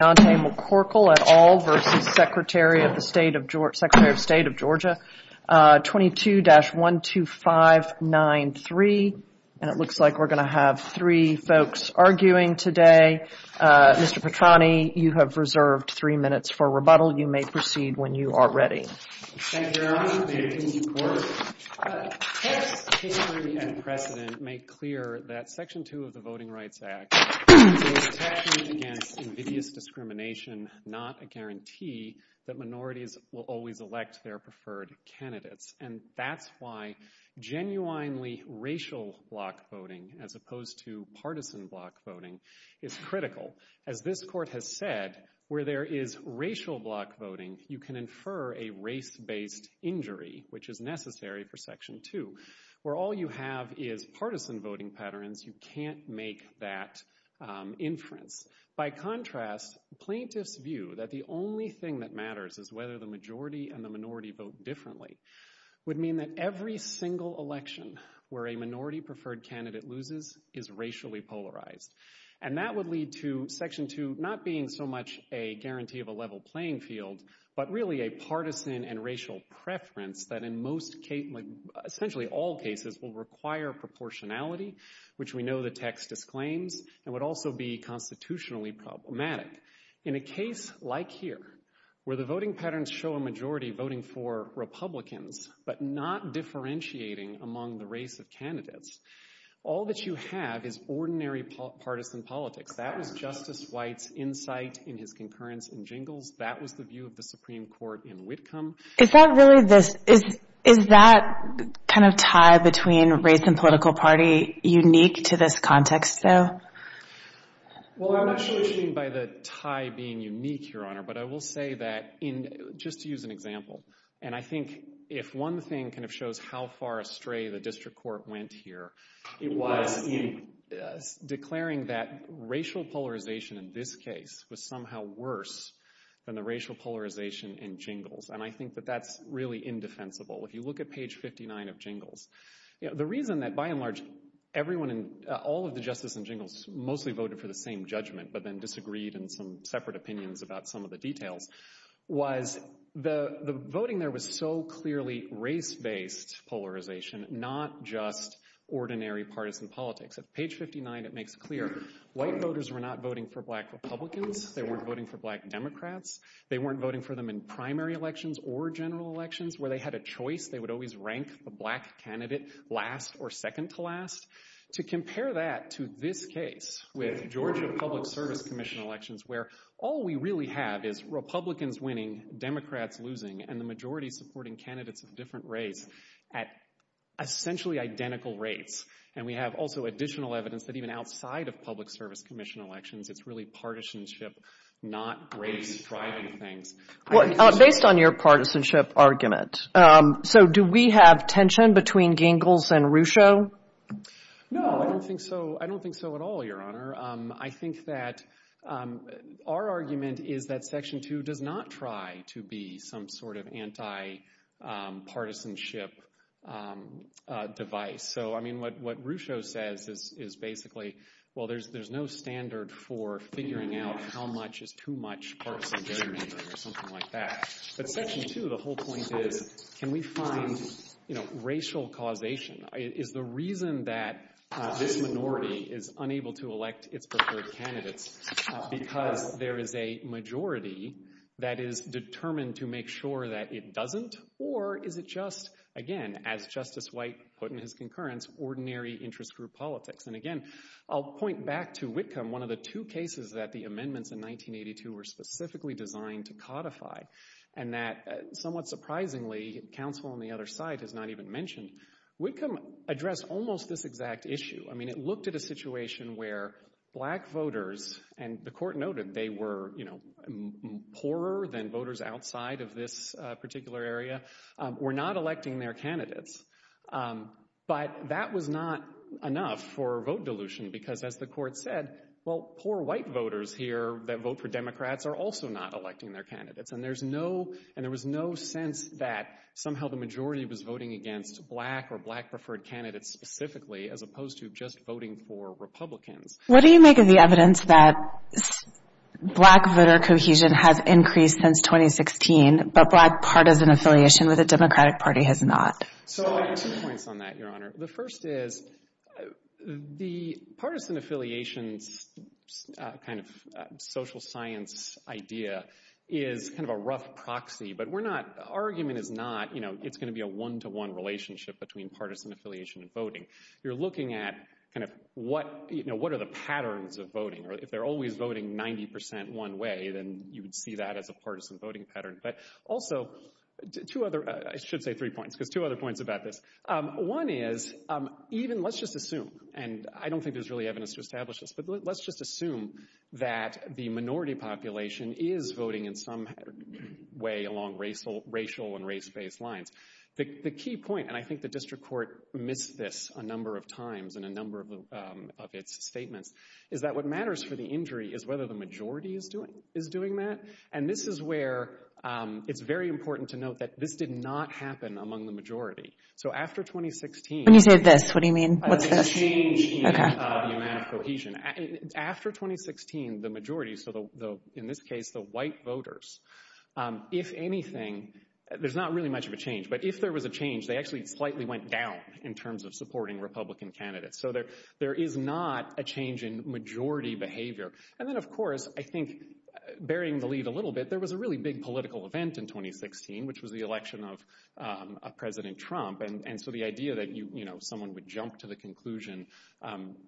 Secretary of State of Georgia. 22-12593. And it looks like we're going to have three folks arguing today. Mr. Petrani, you have reserved three minutes for rebuttal. You may proceed when you are ready. Thank you, Your Honor. May it please the Court. I'm going to take a moment to talk about the race-based injury which is necessary for Section 2, where all you have is partisan voting patterns. You can't make that inference. By contrast, plaintiffs view that the only thing that matters is whether the majority and the minority vote differently would mean that every single election where a minority-preferred candidate loses is racially polarized. And that would lead to Section 2 not being so much a guarantee of a level playing field but really a partisan and racial preference that in most cases, essentially all cases, will require proportionality, which we know the text disclaims, and would also be constitutionally problematic. In a case like here, where the voting patterns show a majority voting for Republicans but not differentiating among the race of candidates, all that you have is ordinary partisan politics. That was Justice White's insight in his concurrence in Jingles. That was the view of the Supreme Court in Whitcomb. Is that really this – is that kind of tie between race and political party unique to this context, though? Well, I'm not sure what you mean by the tie being unique, Your Honor, but I will say that in – just to use an example, and I think if one thing kind of shows how far astray the district court went here, it was in declaring that racial polarization in this case was somehow worse than the racial polarization in Jingles, and I think that that's really indefensible. If you look at page 59 of Jingles, the reason that by and large everyone in – all of the Justice in Jingles mostly voted for the same judgment but then disagreed in some separate opinions about some of the details was the voting there was so clearly race-based polarization, not just ordinary partisan politics. At page 59, it makes clear white voters were not voting for black Republicans. They weren't voting for black Democrats. They weren't voting for them in primary elections or general elections where they had a choice. They would always rank the black candidate last or second to last. To compare that to this case with Georgia Public Service Commission elections where all we really have is Republicans winning, Democrats losing, and the majority supporting candidates of different race at essentially identical rates, and we have also additional evidence that even outside of Public Service Commission elections, it's really partisanship, not race driving things. Based on your partisanship argument, so do we have tension between Jingles and Rucho? No, I don't think so. I don't think so at all, Your Honor. I think that our argument is that Section 2 does not try to be some sort of anti-partisanship device. So, I mean, what Rucho says is basically, well, there's no standard for figuring out how much is too much partisan gerrymandering or something like that. But Section 2, the whole point is can we find racial causation? Is the reason that this minority is unable to elect its preferred candidates because there is a majority that is determined to make sure that it doesn't, or is it just, again, as Justice White put in his concurrence, ordinary interest group politics? And again, I'll point back to Whitcomb, one of the two cases that the amendments in 1982 were specifically designed to codify, and that somewhat surprisingly, counsel on the other side has not even mentioned, Whitcomb addressed almost this exact issue. I mean, it looked at a situation where black voters, and the court noted they were, you know, poorer than voters outside of this particular area, were not electing their candidates. But that was not enough for vote dilution because, as the court said, well, poor white voters here that vote for Democrats are also not electing their candidates. And there's no, and there was no sense that somehow the majority was voting against black or black preferred candidates specifically as opposed to just voting for Republicans. What do you make of the evidence that black voter cohesion has increased since 2016, but black partisan affiliation with the Democratic Party has not? So I'll make two points on that, Your Honor. The first is the partisan affiliations kind of social science idea is kind of a rough proxy, but we're not, argument is not, you know, it's going to be a one-to-one relationship between partisan affiliation and voting. You're looking at kind of what, you know, what are the patterns of voting, or if they're always voting 90% one way, then you would see that as a partisan voting pattern. But also, two other, I should say three points, because two other points about this. One is, even, let's just assume, and I don't think there's really evidence to establish this, but let's just assume that the minority population is voting in some way along racial and race-based lines. The key point, and I think the district court missed this a number of times in a number of its statements, is that what matters for the injury is whether the majority is doing that, and this is where it's very important to note that this did not happen among the majority. When you say this, what do you mean? What's this? And so the idea that, you know, someone would jump to the conclusion,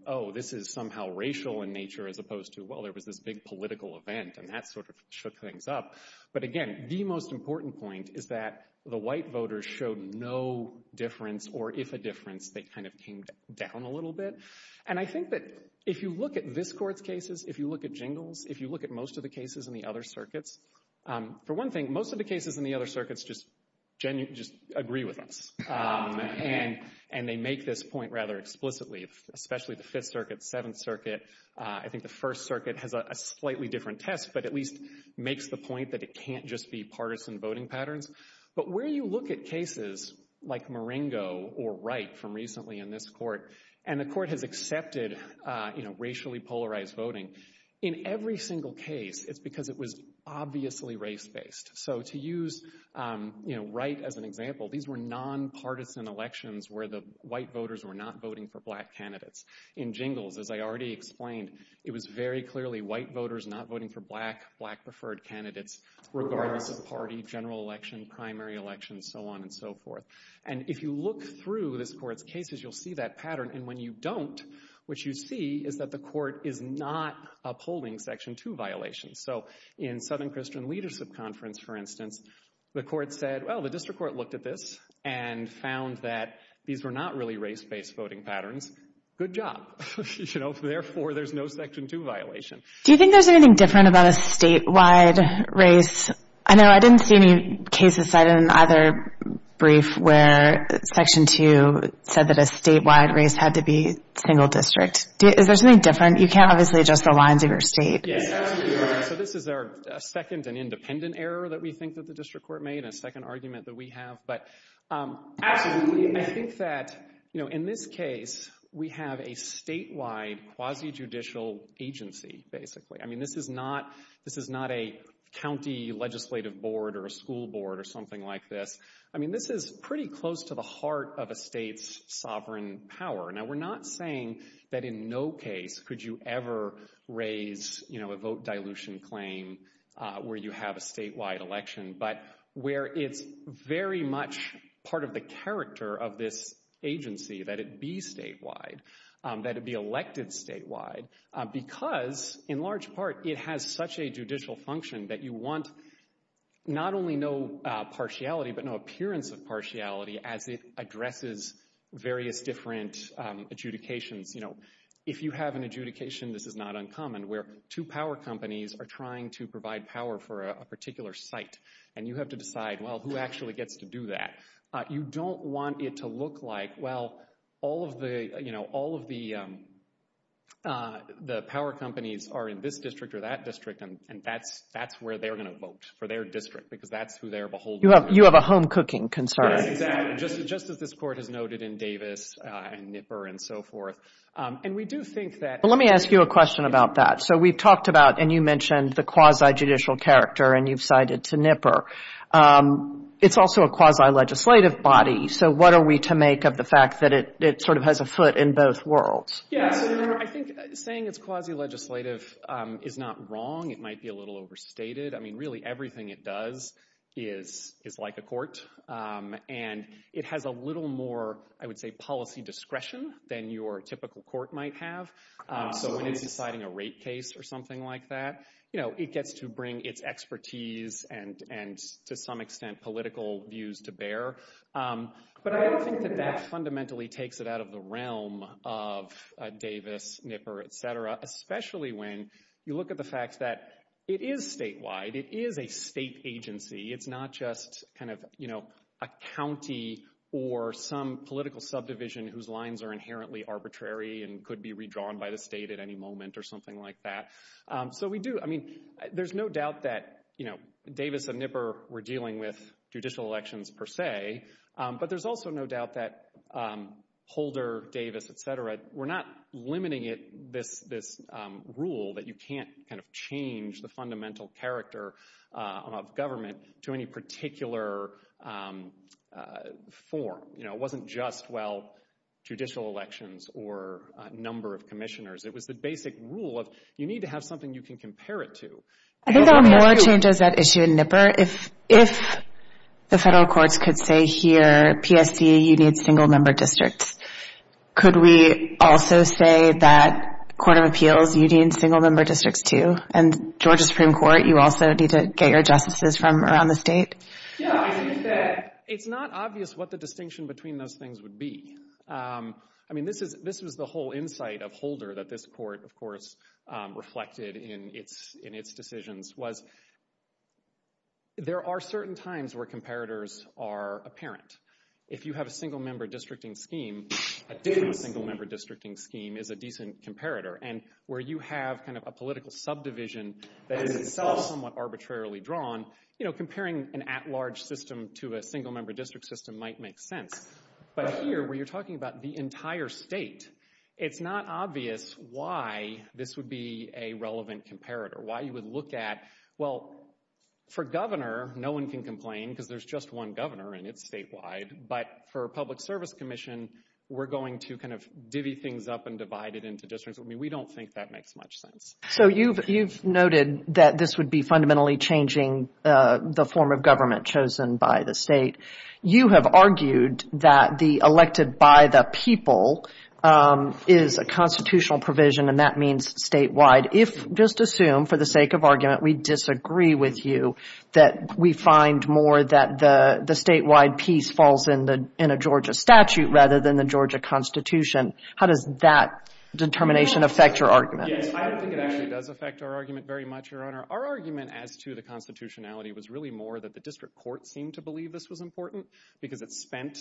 oh, this is somehow racial in nature, as opposed to, well, there was this big political event, and that sort of shook things up. But again, the most important point is that the white voters showed no difference, or if a difference, they kind of came down a little bit. And I think that if you look at this court's cases, if you look at Jingle's, if you look at most of the cases in the other circuits, for one thing, most of the cases in the other circuits just agree with us. And they make this point rather explicitly, especially the Fifth Circuit, Seventh Circuit. I think the First Circuit has a slightly different test, but at least makes the point that it can't just be partisan voting patterns. But where you look at cases like Marengo or Wright from recently in this court, and the court has accepted, you know, racially polarized voting, in every single case, it's because it was obviously race-based. So to use, you know, Wright as an example, these were nonpartisan elections where the white voters were not voting for black candidates. In Jingle's, as I already explained, it was very clearly white voters not voting for black, black-preferred candidates, regardless of party, general election, primary election, so on and so forth. And if you look through this court's cases, you'll see that pattern. And when you don't, what you see is that the court is not upholding Section 2 violations. So in Southern Christian Leadership Conference, for instance, the court said, well, the district court looked at this and found that these were not really race-based voting patterns. Good job. You know, therefore, there's no Section 2 violation. Do you think there's anything different about a statewide race? I know I didn't see any cases cited in either brief where Section 2 said that a statewide race had to be single district. Is there something different? You can't obviously adjust the lines of your state. Yes, absolutely. So this is our second and independent error that we think that the district court made, a second argument that we have. But absolutely, I think that, you know, in this case, we have a statewide quasi-judicial agency, basically. I mean, this is not a county legislative board or a school board or something like this. I mean, this is pretty close to the heart of a state's sovereign power. Now, we're not saying that in no case could you ever raise, you know, a vote dilution claim where you have a statewide election, but where it's very much part of the character of this agency that it be statewide, that it be elected statewide, because in large part, it has such a judicial function that you want not only no partiality, but no appearance of partiality as it addresses various different adjudications. You know, if you have an adjudication, this is not uncommon, where two power companies are trying to provide power for a particular site, and you have to decide, well, who actually gets to do that? You don't want it to look like, well, all of the, you know, all of the power companies are in this district or that district, and that's where they're going to vote, for their district, because that's who they're beholden to. You have a home cooking concern. Yes, exactly. Just as this Court has noted in Davis and Nipper and so forth. And we do think that— Well, let me ask you a question about that. So we've talked about, and you mentioned the quasi-judicial character, and you've cited to Nipper. It's also a quasi-legislative body. So what are we to make of the fact that it sort of has a foot in both worlds? Yes. I think saying it's quasi-legislative is not wrong. It might be a little overstated. I mean, really, everything it does is like a court, and it has a little more, I would say, policy discretion than your typical court might have. So when it's deciding a rate case or something like that, you know, it gets to bring its expertise and, to some extent, political views to bear. But I don't think that that fundamentally takes it out of the realm of Davis, Nipper, et cetera, especially when you look at the fact that it is statewide. It is a state agency. It's not just kind of, you know, a county or some political subdivision whose lines are inherently arbitrary and could be redrawn by the state at any moment or something like that. So we do. I mean, there's no doubt that, you know, Davis and Nipper were dealing with judicial elections per se, but there's also no doubt that Holder, Davis, et cetera, were not limiting it, this rule that you can't kind of change the fundamental character of government to any particular form. You know, it wasn't just, well, judicial elections or number of commissioners. It was the basic rule of you need to have something you can compare it to. I think there are more changes at issue in Nipper. If the federal courts could say here, PSC, you need single-member districts, could we also say that Court of Appeals, you need single-member districts too? And Georgia Supreme Court, you also need to get your justices from around the state? Yeah, I think that it's not obvious what the distinction between those things would be. I mean, this was the whole insight of Holder that this court, of course, reflected in its decisions, was there are certain times where comparators are apparent. If you have a single-member districting scheme, a Davis single-member districting scheme is a decent comparator, and where you have kind of a political subdivision that is itself somewhat arbitrarily drawn, you know, comparing an at-large system to a single-member district system might make sense. But here, where you're talking about the entire state, it's not obvious why this would be a relevant comparator, why you would look at, well, for governor, no one can complain because there's just one governor and it's statewide, but for a public service commission, we're going to kind of divvy things up and divide it into districts. I mean, we don't think that makes much sense. So you've noted that this would be fundamentally changing the form of government chosen by the state. You have argued that the elected by the people is a constitutional provision, and that means statewide. If, just assume, for the sake of argument, we disagree with you, that we find more that the statewide piece falls in a Georgia statute rather than the Georgia Constitution, how does that determination affect your argument? Yes, I don't think it actually does affect our argument very much, Your Honor. Our argument as to the constitutionality was really more that the district court seemed to believe this was important because it spent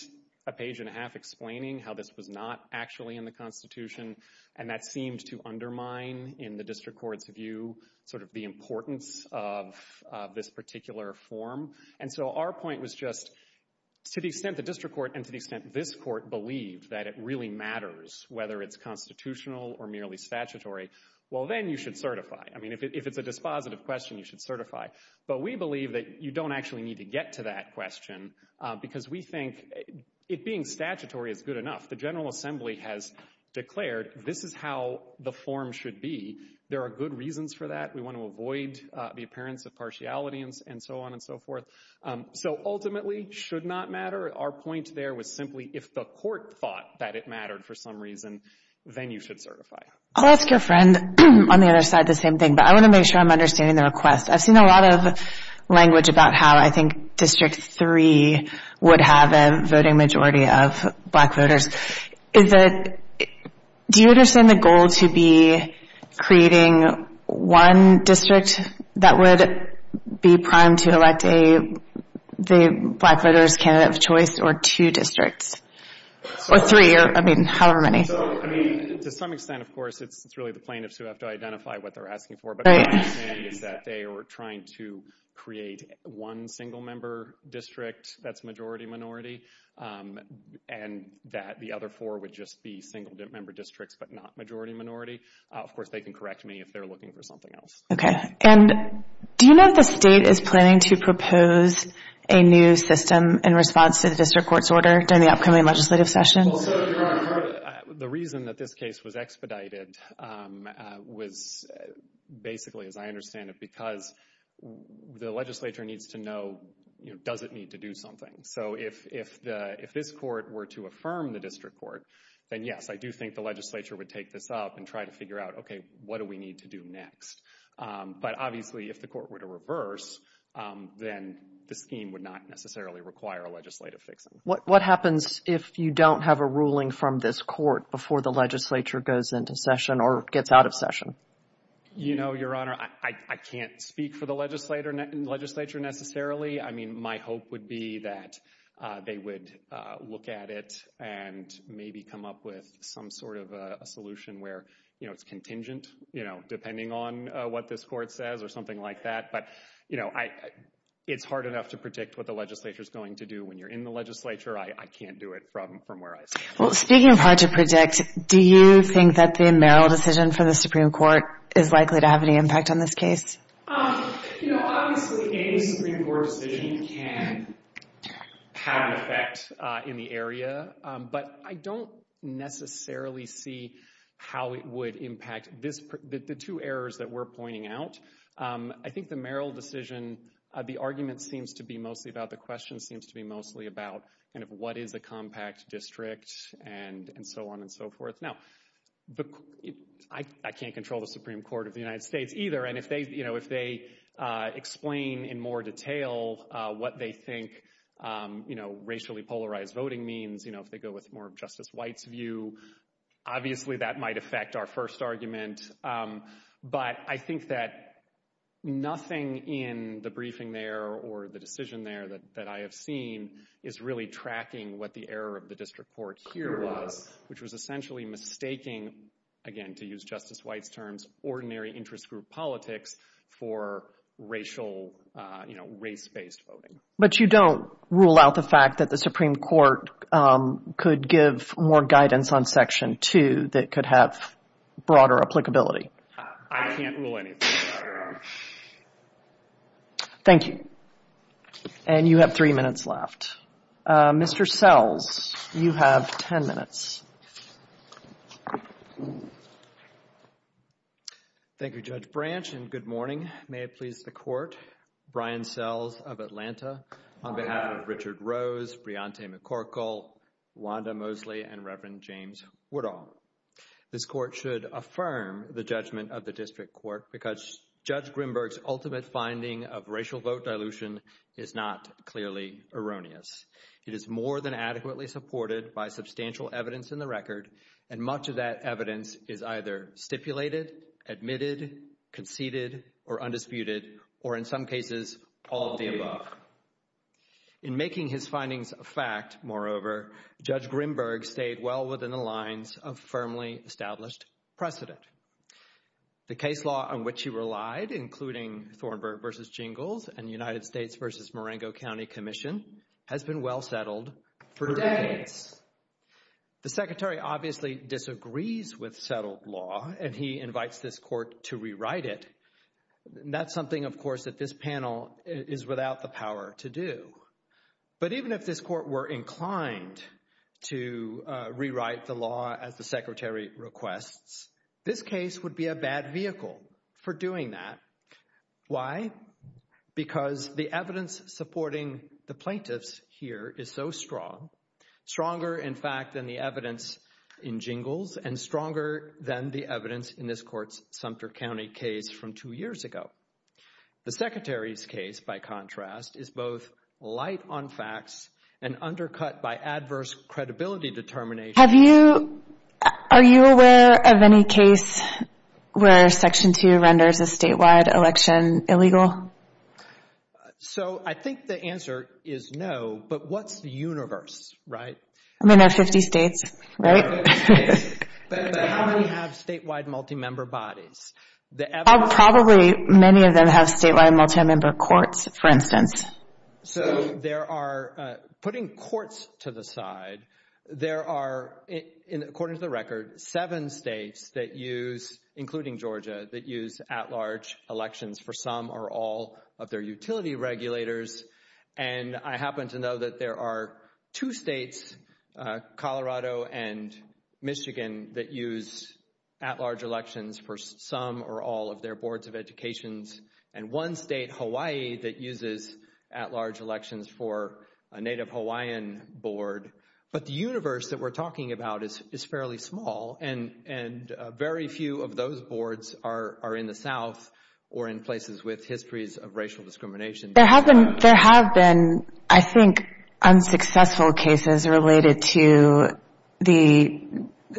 a page and a half explaining how this was not actually in the Constitution, and that seemed to undermine, in the district court's view, sort of the importance of this particular form. And so our point was just, to the extent the district court and to the extent this court believed that it really matters, whether it's constitutional or merely statutory, well, then you should certify. I mean, if it's a dispositive question, you should certify. But we believe that you don't actually need to get to that question because we think it being statutory is good enough. The General Assembly has declared this is how the form should be. There are good reasons for that. We want to avoid the appearance of partiality and so on and so forth. So ultimately, should not matter. Our point there was simply if the court thought that it mattered for some reason, then you should certify. I'll ask your friend on the other side the same thing, but I want to make sure I'm understanding the request. I've seen a lot of language about how I think District 3 would have a voting majority of black voters. Do you understand the goal to be creating one district that would be primed to elect a black voter's candidate of choice or two districts or three or, I mean, however many? So, I mean, to some extent, of course, it's really the plaintiffs who have to identify what they're asking for. But what I'm saying is that they are trying to create one single-member district that's majority-minority and that the other four would just be single-member districts but not majority-minority. Of course, they can correct me if they're looking for something else. Okay. And do you know if the state is planning to propose a new system in response to the district court's order during the upcoming legislative session? Well, sir, the reason that this case was expedited was basically, as I understand it, because the legislature needs to know, you know, does it need to do something? So if this court were to affirm the district court, then yes, I do think the legislature would take this up and try to figure out, okay, what do we need to do next? But obviously, if the court were to reverse, then the scheme would not necessarily require a legislative fixing. What happens if you don't have a ruling from this court before the legislature goes into session or gets out of session? You know, Your Honor, I can't speak for the legislature necessarily. I mean, my hope would be that they would look at it and maybe come up with some sort of a solution where, you know, it's contingent, you know, depending on what this court says or something like that. But, you know, it's hard enough to predict what the legislature is going to do when you're in the legislature. I can't do it from where I stand. Well, speaking of hard to predict, do you think that the Merrill decision for the Supreme Court is likely to have any impact on this case? You know, obviously, any Supreme Court decision can have an effect in the area, but I don't necessarily see how it would impact the two errors that we're pointing out. I think the Merrill decision, the argument seems to be mostly about, the question seems to be mostly about kind of what is a compact district and so on and so forth. Now, I can't control the Supreme Court of the United States either. And if they, you know, if they explain in more detail what they think, you know, racially polarized voting means, you know, if they go with more of Justice White's view, obviously that might affect our first argument. But I think that nothing in the briefing there or the decision there that I have seen is really tracking what the error of the district court here was, which was essentially mistaking, again, to use Justice White's terms, ordinary interest group politics for racial, you know, race-based voting. But you don't rule out the fact that the Supreme Court could give more guidance on Section 2 that could have broader applicability. I can't rule anything out, Your Honor. Thank you. And you have three minutes left. Mr. Sells, you have ten minutes. Thank you, Judge Branch, and good morning. May it please the Court, Brian Sells of Atlanta, on behalf of Richard Rose, Briante McCorkle, Wanda Mosley, and Reverend James Woodall. This Court should affirm the judgment of the district court because Judge Grimberg's ultimate finding of racial vote dilution is not clearly erroneous. It is more than adequately supported by substantial evidence in the record, and much of that evidence is either stipulated, admitted, conceded, or undisputed, or in some cases, all of the above. In making his findings a fact, moreover, Judge Grimberg stayed well within the lines of firmly established precedent. The case law on which he relied, including Thornburg v. Jingles and United States v. Marengo County Commission, has been well settled for decades. The Secretary obviously disagrees with settled law, and he invites this Court to rewrite it. That's something, of course, that this panel is without the power to do. But even if this Court were inclined to rewrite the law as the Secretary requests, this case would be a bad vehicle for doing that. Why? Because the evidence supporting the plaintiffs here is so strong, stronger, in fact, than the evidence in Jingles and stronger than the evidence in this Court's Sumter County case from two years ago. The Secretary's case, by contrast, is both light on facts and undercut by adverse credibility determination. Are you aware of any case where Section 2 renders a statewide election illegal? So I think the answer is no, but what's the universe, right? I mean, there are 50 states, right? But how many have statewide multi-member bodies? Probably many of them have statewide multi-member courts, for instance. So there are, putting courts to the side, there are, according to the record, seven states that use, including Georgia, that use at-large elections for some or all of their utility regulators. And I happen to know that there are two states, Colorado and Michigan, that use at-large elections for some or all of their boards of educations, and one state, Hawaii, that uses at-large elections for a Native Hawaiian board. But the universe that we're talking about is fairly small, and very few of those boards are in the South or in places with histories of racial discrimination. There have been, I think, unsuccessful cases related to the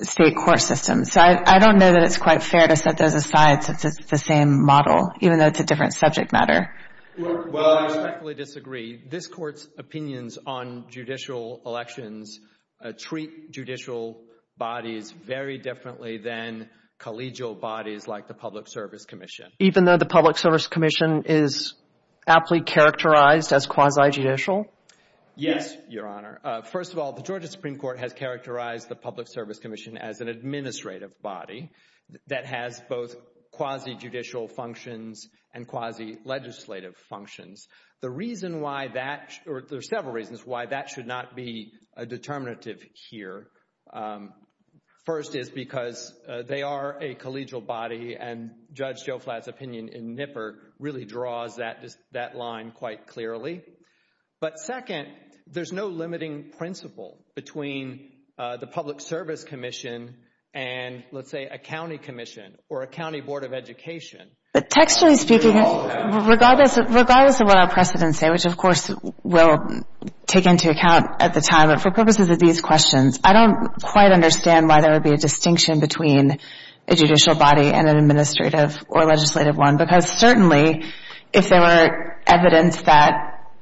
state court system. So I don't know that it's quite fair to set those aside since it's the same model, even though it's a different subject matter. Well, I respectfully disagree. This Court's opinions on judicial elections treat judicial bodies very differently than collegial bodies like the Public Service Commission. Even though the Public Service Commission is aptly characterized as quasi-judicial? Yes, Your Honor. First of all, the Georgia Supreme Court has characterized the Public Service Commission as an administrative body that has both quasi-judicial functions and quasi-legislative functions. There are several reasons why that should not be a determinative here. First is because they are a collegial body, and Judge Joe Flatt's opinion in NIPPER really draws that line quite clearly. But second, there's no limiting principle between the Public Service Commission and, let's say, a county commission or a county board of education. But textually speaking, regardless of what our precedents say, which of course we'll take into account at the time, but for purposes of these questions, I don't quite understand why there would be a distinction between a judicial body and an administrative or legislative one. Because certainly, if there were evidence that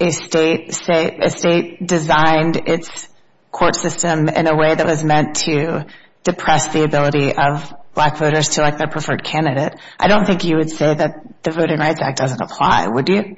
a state designed its court system in a way that was meant to depress the ability of black voters to elect their preferred candidate, I don't think you would say that the Voting Rights Act doesn't apply, would you?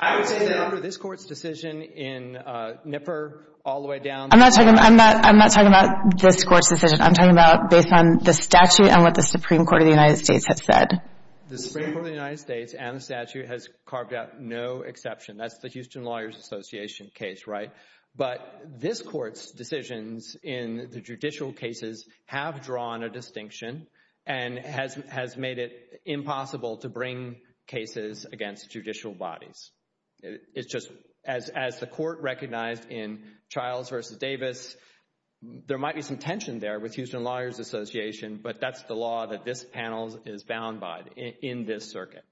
I would say that under this Court's decision in NIPPER, all the way down the line... I'm not talking about this Court's decision. I'm talking about based on the statute and what the Supreme Court of the United States has said. The Supreme Court of the United States and the statute has carved out no exception. That's the Houston Lawyers Association case, right? But this Court's decisions in the judicial cases have drawn a distinction and has made it impossible to bring cases against judicial bodies. As the Court recognized in Childs v. Davis, there might be some tension there with Houston Lawyers Association, but that's the law that this panel is bound by in this circuit.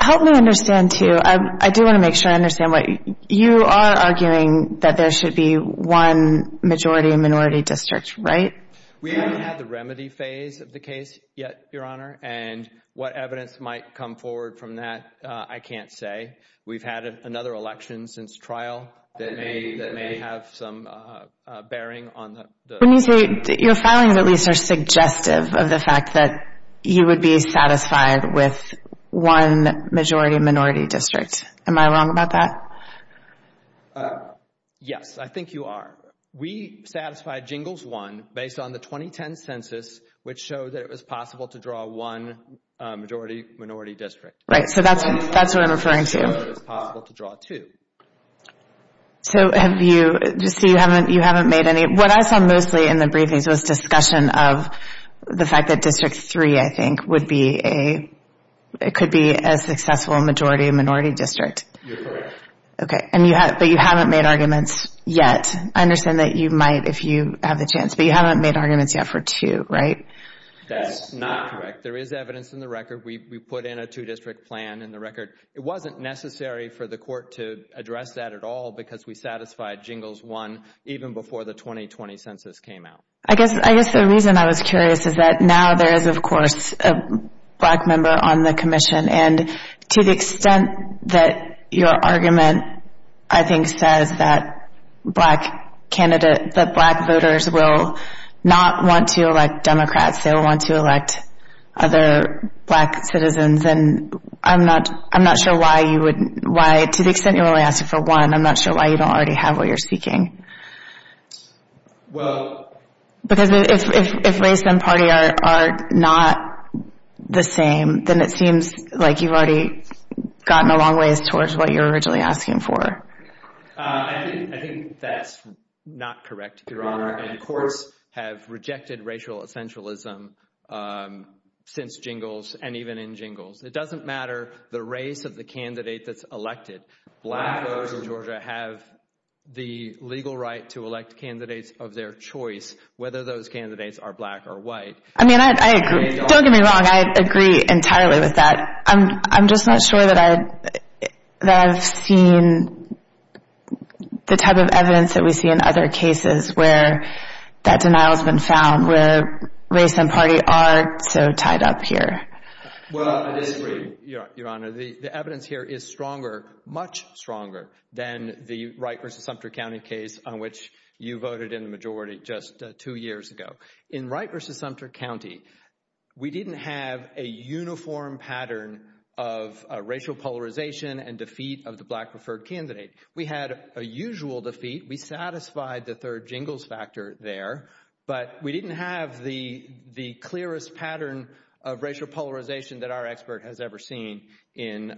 Help me understand, too. I do want to make sure I understand. You are arguing that there should be one majority and minority district, right? We haven't had the remedy phase of the case yet, Your Honor, and what evidence might come forward from that, I can't say. We've had another election since trial that may have some bearing on the... When you say your filings at least are suggestive of the fact that you would be satisfied with one majority and minority district, am I wrong about that? Yes, I think you are. We satisfied Jingles 1 based on the 2010 census, which showed that it was possible to draw one majority and minority district. Right, so that's what I'm referring to. It was possible to draw two. So have you, just so you haven't made any... What I saw mostly in the briefings was discussion of the fact that District 3, I think, could be a successful majority and minority district. You're correct. Okay, but you haven't made arguments yet. I understand that you might if you have the chance, but you haven't made arguments yet for two, right? That's not correct. There is evidence in the record. We put in a two-district plan in the record. It wasn't necessary for the court to address that at all because we satisfied Jingles 1 even before the 2020 census came out. I guess the reason I was curious is that now there is, of course, a black member on the commission, and to the extent that your argument, I think, says that black voters will not want to elect Democrats. They will want to elect other black citizens, and I'm not sure why you would... To the extent you only asked for one, I'm not sure why you don't already have what you're seeking. Well... Because if race and party are not the same, then it seems like you've already gotten a long ways towards what you were originally asking for. I think that's not correct, Your Honor, and courts have rejected racial essentialism since Jingles and even in Jingles. It doesn't matter the race of the candidate that's elected. Black voters in Georgia have the legal right to elect candidates of their choice, whether those candidates are black or white. I mean, I agree. Don't get me wrong. I agree entirely with that. I'm just not sure that I've seen the type of evidence that we see in other cases where that denial has been found, where race and party are so tied up here. Well, I disagree, Your Honor. The evidence here is stronger, much stronger, than the Wright v. Sumter County case on which you voted in the majority just two years ago. In Wright v. Sumter County, we didn't have a uniform pattern of racial polarization and defeat of the black preferred candidate. We had a usual defeat. We satisfied the third Jingles factor there, but we didn't have the clearest pattern of racial polarization that our expert has ever seen in,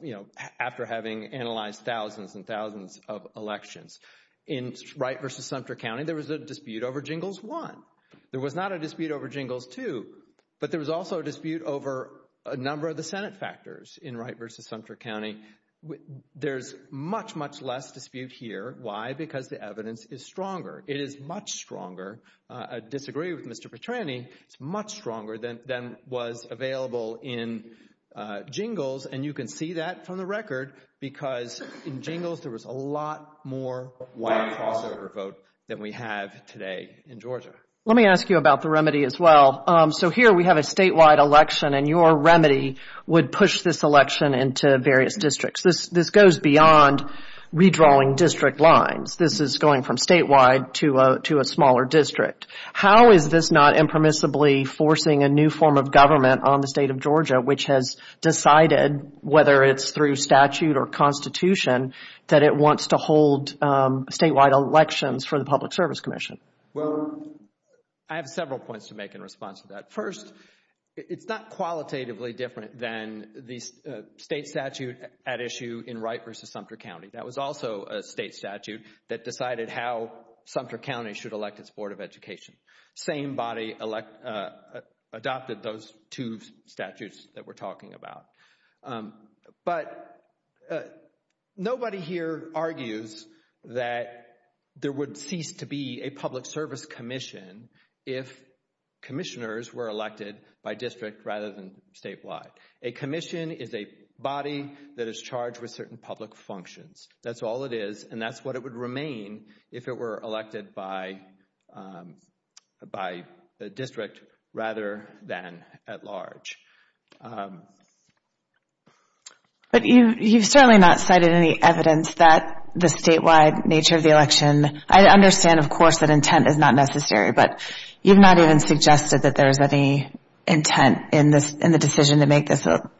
you know, after having analyzed thousands and thousands of elections. In Wright v. Sumter County, there was a dispute over Jingles 1. There was not a dispute over Jingles 2, but there was also a dispute over a number of the Senate factors in Wright v. Sumter County. There's much, much less dispute here. Why? Because the evidence is stronger. It is much stronger. I disagree with Mr. Petrani. It's much stronger than was available in Jingles, and you can see that from the record because in Jingles, there was a lot more white crossover vote than we have today in Georgia. Let me ask you about the remedy as well. So here we have a statewide election, and your remedy would push this election into various districts. This goes beyond redrawing district lines. This is going from statewide to a smaller district. How is this not impermissibly forcing a new form of government on the state of Georgia, which has decided, whether it's through statute or constitution, that it wants to hold statewide elections for the Public Service Commission? Well, I have several points to make in response to that. First, it's not qualitatively different than the state statute at issue in Wright v. Sumter County. That was also a state statute that decided how Sumter County should elect its Board of Education. Same body adopted those two statutes that we're talking about. But nobody here argues that there would cease to be a Public Service Commission if commissioners were elected by district rather than statewide. A commission is a body that is charged with certain public functions. That's all it is, and that's what it would remain if it were elected by the district rather than at large. But you've certainly not cited any evidence that the statewide nature of the election – I understand, of course, that intent is not necessary, but you've not even suggested that there is any intent in the decision to make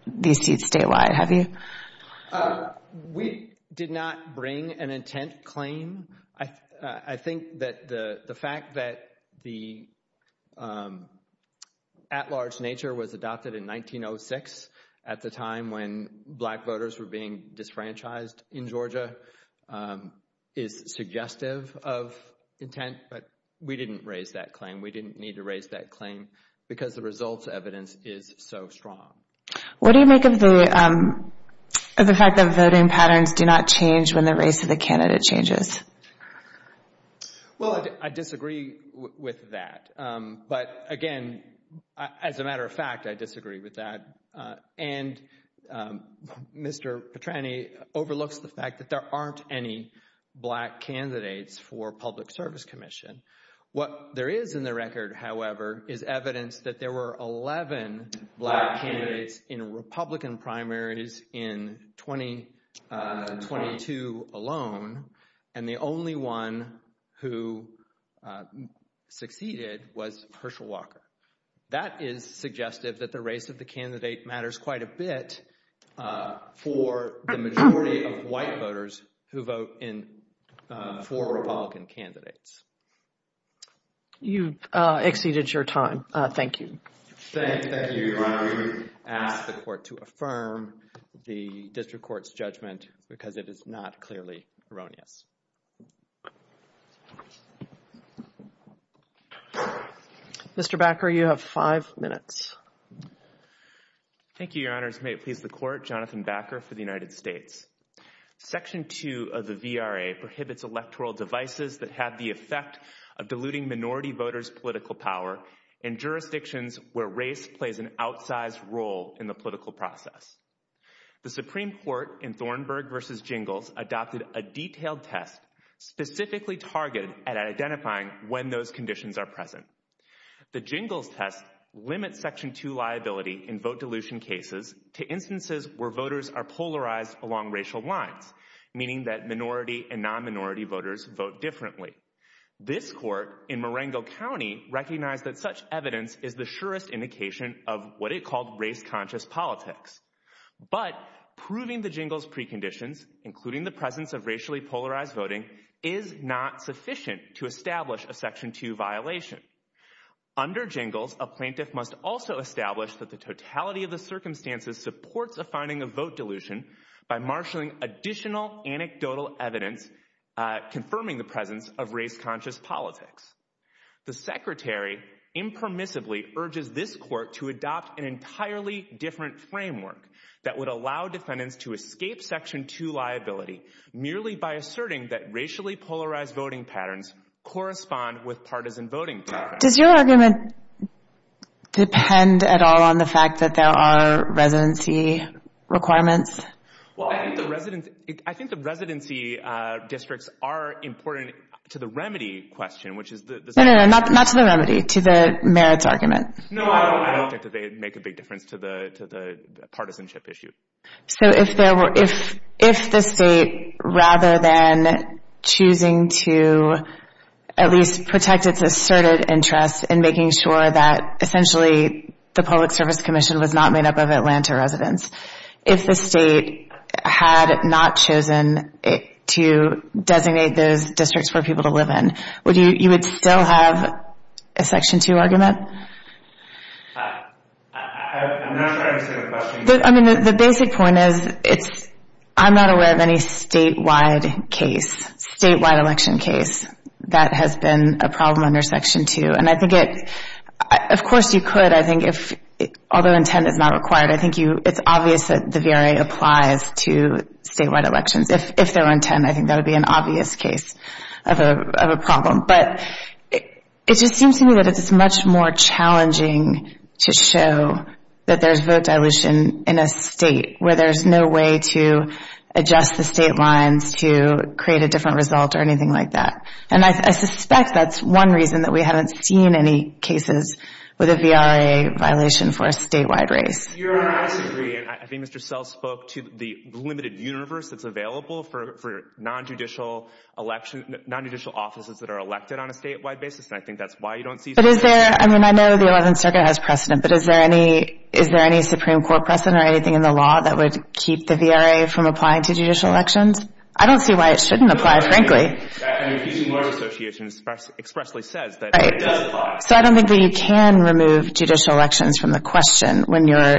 these seats statewide, have you? We did not bring an intent claim. I think that the fact that the at-large nature was adopted in 1906 at the time when black voters were being disfranchised in Georgia is suggestive of intent, but we didn't raise that claim. We didn't need to raise that claim because the results evidence is so strong. What do you make of the fact that voting patterns do not change when the race of the candidate changes? Well, I disagree with that, but again, as a matter of fact, I disagree with that. And Mr. Petrani overlooks the fact that there aren't any black candidates for Public Service Commission. What there is in the record, however, is evidence that there were 11 black candidates in Republican primaries in 2022 alone, and the only one who succeeded was Hershel Walker. That is suggestive that the race of the candidate matters quite a bit for the majority of white voters who vote for Republican candidates. You've exceeded your time. Thank you. Thank you. I ask the Court to affirm the District Court's judgment because it is not clearly erroneous. Mr. Bakker, you have five minutes. Thank you, Your Honors. May it please the Court, Jonathan Bakker for the United States. Section 2 of the VRA prohibits electoral devices that have the effect of diluting minority voters' political power in jurisdictions where race plays an outsized role in the political process. The Supreme Court in Thornburg v. Jingles adopted a detailed test specifically targeted at identifying when those conditions are present. The Jingles test limits Section 2 liability in vote dilution cases to instances where voters are polarized along racial lines, meaning that minority and non-minority voters vote differently. This Court in Marengo County recognized that such evidence is the surest indication of what it called race-conscious politics. But proving the Jingles preconditions, including the presence of racially polarized voting, is not sufficient to establish a Section 2 violation. Under Jingles, a plaintiff must also establish that the totality of the circumstances supports a finding of vote dilution by marshalling additional anecdotal evidence confirming the presence of race-conscious politics. The Secretary impermissibly urges this Court to adopt an entirely different framework that would allow defendants to escape Section 2 liability merely by asserting that racially polarized voting patterns correspond with partisan voting patterns. Does your argument depend at all on the fact that there are residency requirements? I think the residency districts are important to the remedy question. No, not to the remedy, to the merits argument. No, I don't think they make a big difference to the partisanship issue. So if the state, rather than choosing to at least protect its asserted interest in making sure that essentially the Public Service Commission was not made up of Atlanta residents, if the state had not chosen to designate those districts for people to live in, would you still have a Section 2 argument? I'm not sure I understand the question. I mean, the basic point is I'm not aware of any statewide case, statewide election case, that has been a problem under Section 2. And I think it, of course you could, I think if, although intent is not required, I think it's obvious that the VRA applies to statewide elections. If there were intent, I think that would be an obvious case of a problem. But it just seems to me that it's much more challenging to show that there's vote dilution in a state where there's no way to adjust the state lines to create a different result or anything like that. And I suspect that's one reason that we haven't seen any cases with a VRA violation for a statewide race. I think Mr. Sell spoke to the limited universe that's available for non-judicial elections, non-judicial offices that are elected on a statewide basis. And I think that's why you don't see. But is there, I mean, I know the 11th Circuit has precedent, but is there any, is there any Supreme Court precedent or anything in the law that would keep the VRA from applying to judicial elections? I don't see why it shouldn't apply, frankly. And the Appeasing Lawyers Association expressly says that it does apply. So I don't think that you can remove judicial elections from the question when you're,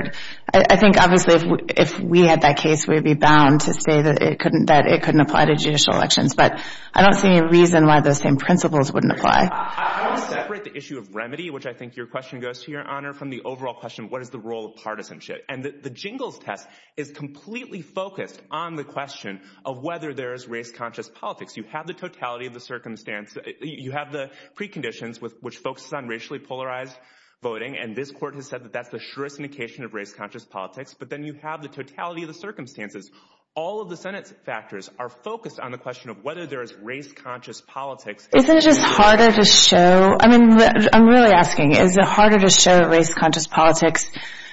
I think obviously if we had that case, we would be bound to say that it couldn't apply to judicial elections. But I don't see any reason why those same principles wouldn't apply. I want to separate the issue of remedy, which I think your question goes to, Your Honor, from the overall question of what is the role of partisanship. And the Jingles Test is completely focused on the question of whether there is race-conscious politics. You have the totality of the circumstance. You have the preconditions, which focuses on racially polarized voting. And this Court has said that that's the surest indication of race-conscious politics. But then you have the totality of the circumstances. All of the Senate's factors are focused on the question of whether there is race-conscious politics. Isn't it just harder to show? I mean, I'm really asking, is it harder to show race-conscious politics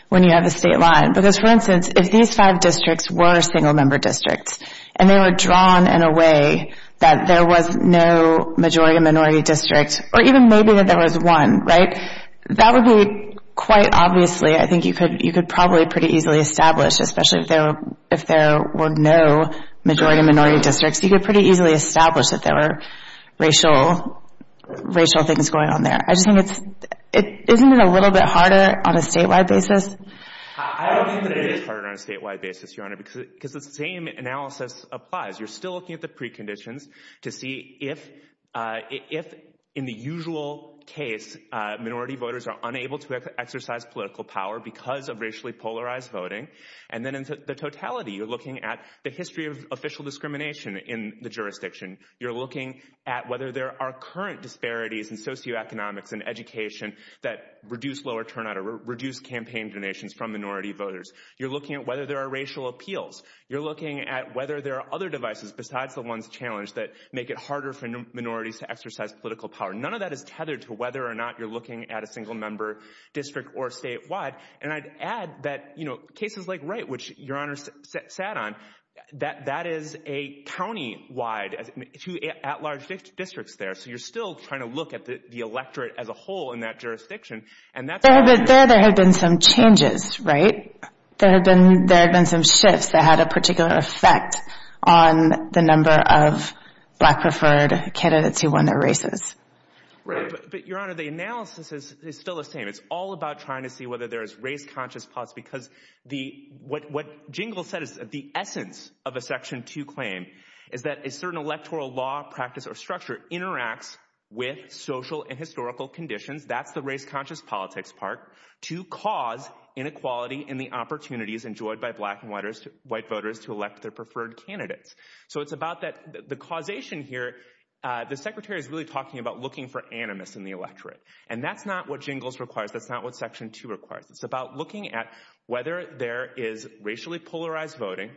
when you have a state line? Because, for instance, if these five districts were single-member districts and they were drawn in a way that there was no majority or minority district, or even maybe that there was one, right, that would be quite obviously, I think you could probably pretty easily establish, especially if there were no majority or minority districts, you could pretty easily establish that there were racial things going on there. Isn't it a little bit harder on a statewide basis? I don't think that it is harder on a statewide basis, Your Honor, because the same analysis applies. You're still looking at the preconditions to see if, in the usual case, minority voters are unable to exercise political power because of racially polarized voting. And then in the totality, you're looking at the history of official discrimination in the jurisdiction. You're looking at whether there are current disparities in socioeconomics and education that reduce lower turnout or reduce campaign donations from minority voters. You're looking at whether there are racial appeals. You're looking at whether there are other devices besides the ones challenged that make it harder for minorities to exercise political power. None of that is tethered to whether or not you're looking at a single-member district or statewide. And I'd add that, you know, cases like Wright, which Your Honor sat on, that that is a county-wide, two at-large districts there. So you're still trying to look at the electorate as a whole in that jurisdiction. There have been some changes, right? There have been some shifts that had a particular effect on the number of black-preferred candidates who won their races. Right. But, Your Honor, the analysis is still the same. It's all about trying to see whether there is race-conscious policy because what Jingle said is the essence of a Section 2 claim is that a certain electoral law, practice, or structure interacts with social and historical conditions. That's the race-conscious politics part. To cause inequality in the opportunities enjoyed by black and white voters to elect their preferred candidates. So it's about the causation here. The Secretary is really talking about looking for animus in the electorate. And that's not what Jingles requires. That's not what Section 2 requires. It's about looking at whether there is racially polarized voting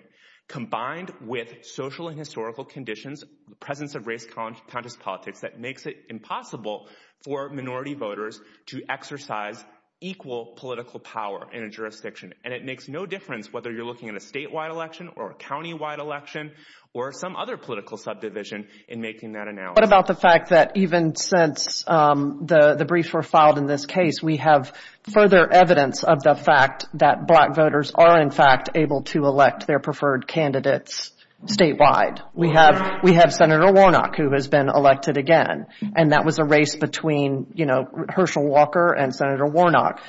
combined with social and historical conditions, the presence of race-conscious politics that makes it impossible for minority voters to exercise equal political power in a jurisdiction. And it makes no difference whether you're looking at a statewide election or a countywide election or some other political subdivision in making that analysis. What about the fact that even since the briefs were filed in this case, we have further evidence of the fact that black voters are, in fact, able to elect their preferred candidates statewide? We have Senator Warnock who has been elected again. And that was a race between, you know, Hershel Walker and Senator Warnock.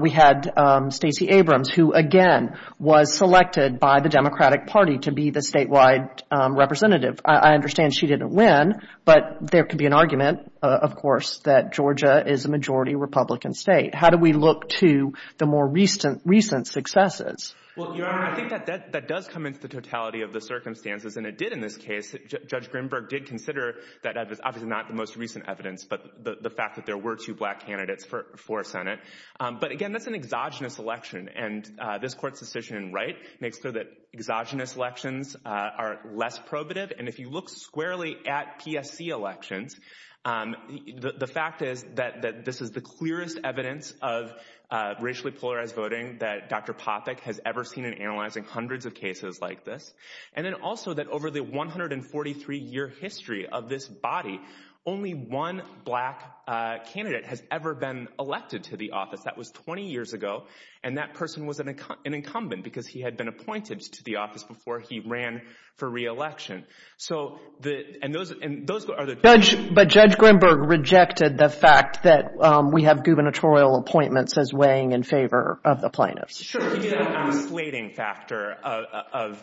We had Stacey Abrams who, again, was selected by the Democratic Party to be the statewide representative. I understand she didn't win, but there could be an argument, of course, that Georgia is a majority Republican state. How do we look to the more recent successes? Well, Your Honor, I think that does come into the totality of the circumstances, and it did in this case. Judge Grimberg did consider that evidence, obviously not the most recent evidence, but the fact that there were two black candidates for Senate. But again, that's an exogenous election, and this court's decision in Wright makes clear that exogenous elections are less probative. And if you look squarely at PSC elections, the fact is that this is the clearest evidence of racially polarized voting that Dr. Popik has ever seen in analyzing hundreds of cases like this. And then also that over the 143-year history of this body, only one black candidate has ever been elected to the office. That was 20 years ago, and that person was an incumbent because he had been appointed to the office before he ran for re-election. But Judge Grimberg rejected the fact that we have gubernatorial appointments as weighing in favor of the plaintiffs. Sure, he did have a slating factor of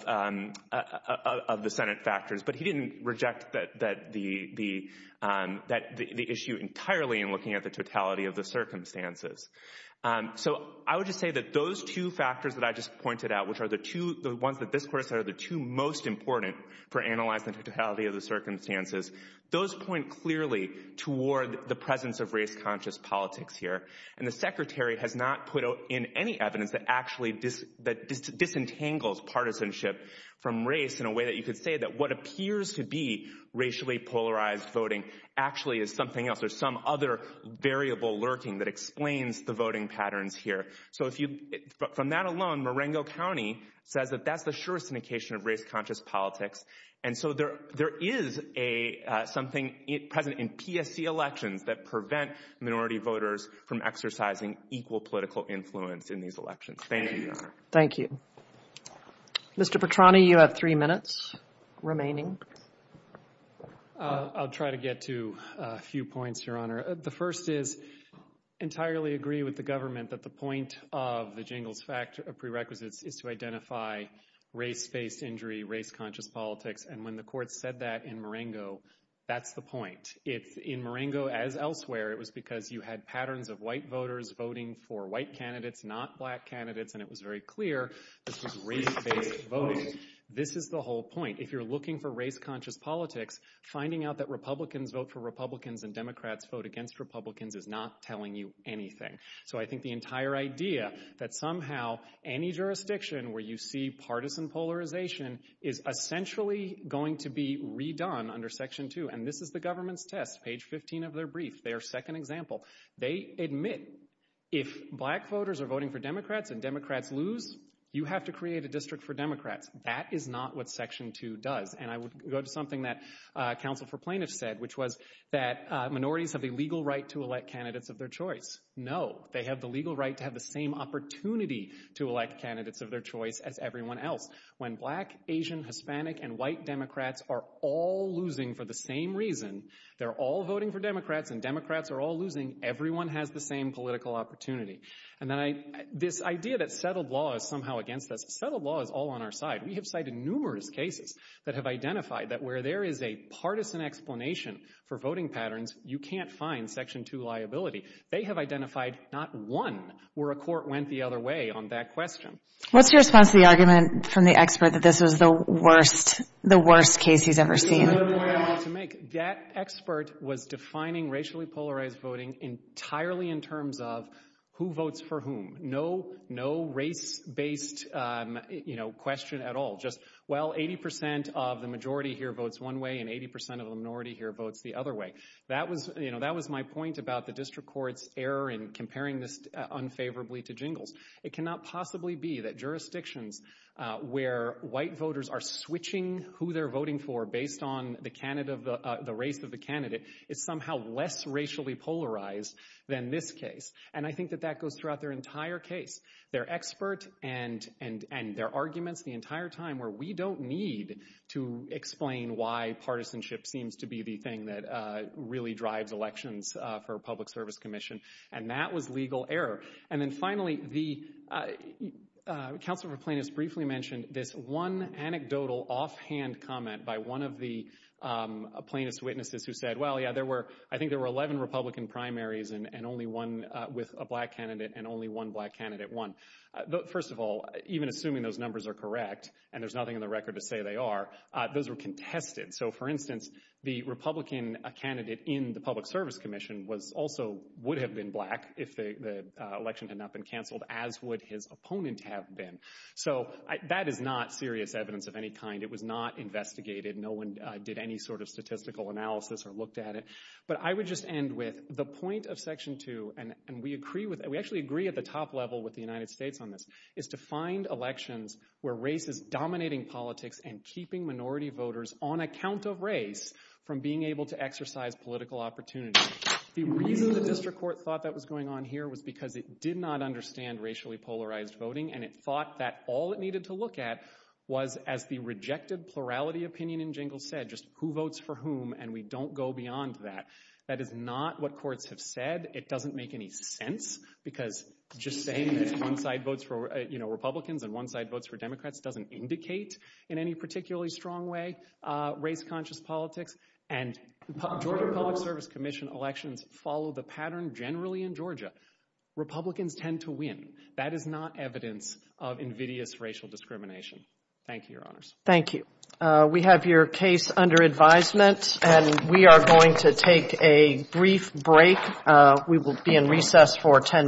the Senate factors, but he didn't reject the issue entirely in looking at the totality of the circumstances. So I would just say that those two factors that I just pointed out, which are the ones that this court said are the two most important for analyzing the totality of the circumstances, those point clearly toward the presence of race-conscious politics here. And the Secretary has not put in any evidence that actually disentangles partisanship from race in a way that you could say that what appears to be racially polarized voting actually is something else or some other variable lurking that explains the voting patterns here. So from that alone, Marengo County says that that's the surest indication of race-conscious politics. And so there is something present in PSC elections that prevent minority voters from exercising equal political influence in these elections. Thank you, Your Honor. Thank you. Mr. Petrani, you have three minutes remaining. I'll try to get to a few points, Your Honor. The first is I entirely agree with the government that the point of the jingles prerequisites is to identify race-based injury, race-conscious politics. And when the court said that in Marengo, that's the point. In Marengo, as elsewhere, it was because you had patterns of white voters voting for white candidates, not black candidates. And it was very clear this was race-based voting. This is the whole point. If you're looking for race-conscious politics, finding out that Republicans vote for Republicans and Democrats vote against Republicans is not telling you anything. So I think the entire idea that somehow any jurisdiction where you see partisan polarization is essentially going to be redone under Section 2. And this is the government's test, page 15 of their brief, their second example. They admit if black voters are voting for Democrats and Democrats lose, you have to create a district for Democrats. That is not what Section 2 does. And I would go to something that counsel for plaintiffs said, which was that minorities have the legal right to elect candidates of their choice. No, they have the legal right to have the same opportunity to elect candidates of their choice as everyone else. When black, Asian, Hispanic, and white Democrats are all losing for the same reason, they're all voting for Democrats and Democrats are all losing, everyone has the same political opportunity. And then this idea that settled law is somehow against us, settled law is all on our side. We have cited numerous cases that have identified that where there is a partisan explanation for voting patterns, you can't find Section 2 liability. They have identified not one where a court went the other way on that question. What's your response to the argument from the expert that this was the worst case he's ever seen? That expert was defining racially polarized voting entirely in terms of who votes for whom. No race-based question at all. Just, well, 80% of the majority here votes one way and 80% of the minority here votes the other way. That was my point about the district court's error in comparing this unfavorably to jingles. It cannot possibly be that jurisdictions where white voters are switching who they're voting for based on the race of the candidate is somehow less racially polarized than this case. And I think that that goes throughout their entire case. They're expert and their arguments the entire time where we don't need to explain why partisanship seems to be the thing that really drives elections for a public service commission. And that was legal error. And then finally, the counsel for plaintiffs briefly mentioned this one anecdotal offhand comment by one of the plaintiffs' witnesses who said, well, yeah, I think there were 11 Republican primaries and only one with a black candidate and only one black candidate won. First of all, even assuming those numbers are correct, and there's nothing in the record to say they are, those were contested. So, for instance, the Republican candidate in the public service commission also would have been black if the election had not been canceled, as would his opponent have been. So, that is not serious evidence of any kind. It was not investigated. No one did any sort of statistical analysis or looked at it. But I would just end with the point of Section 2, and we actually agree at the top level with the United States on this, is to find elections where race is dominating politics and keeping minority voters on account of race from being able to exercise political opportunity. The reason the district court thought that was going on here was because it did not understand racially polarized voting, and it thought that all it needed to look at was, as the rejected plurality opinion in Jingle said, just who votes for whom, and we don't go beyond that. That is not what courts have said. It doesn't make any sense because just saying there's one-side votes for, you know, Republicans and one-side votes for Democrats doesn't indicate in any particularly strong way race-conscious politics. And Georgia Public Service Commission elections follow the pattern generally in Georgia. Republicans tend to win. That is not evidence of invidious racial discrimination. Thank you, Your Honors. Thank you. We have your case under advisement, and we are going to take a brief break. We will be in recess for 10 minutes.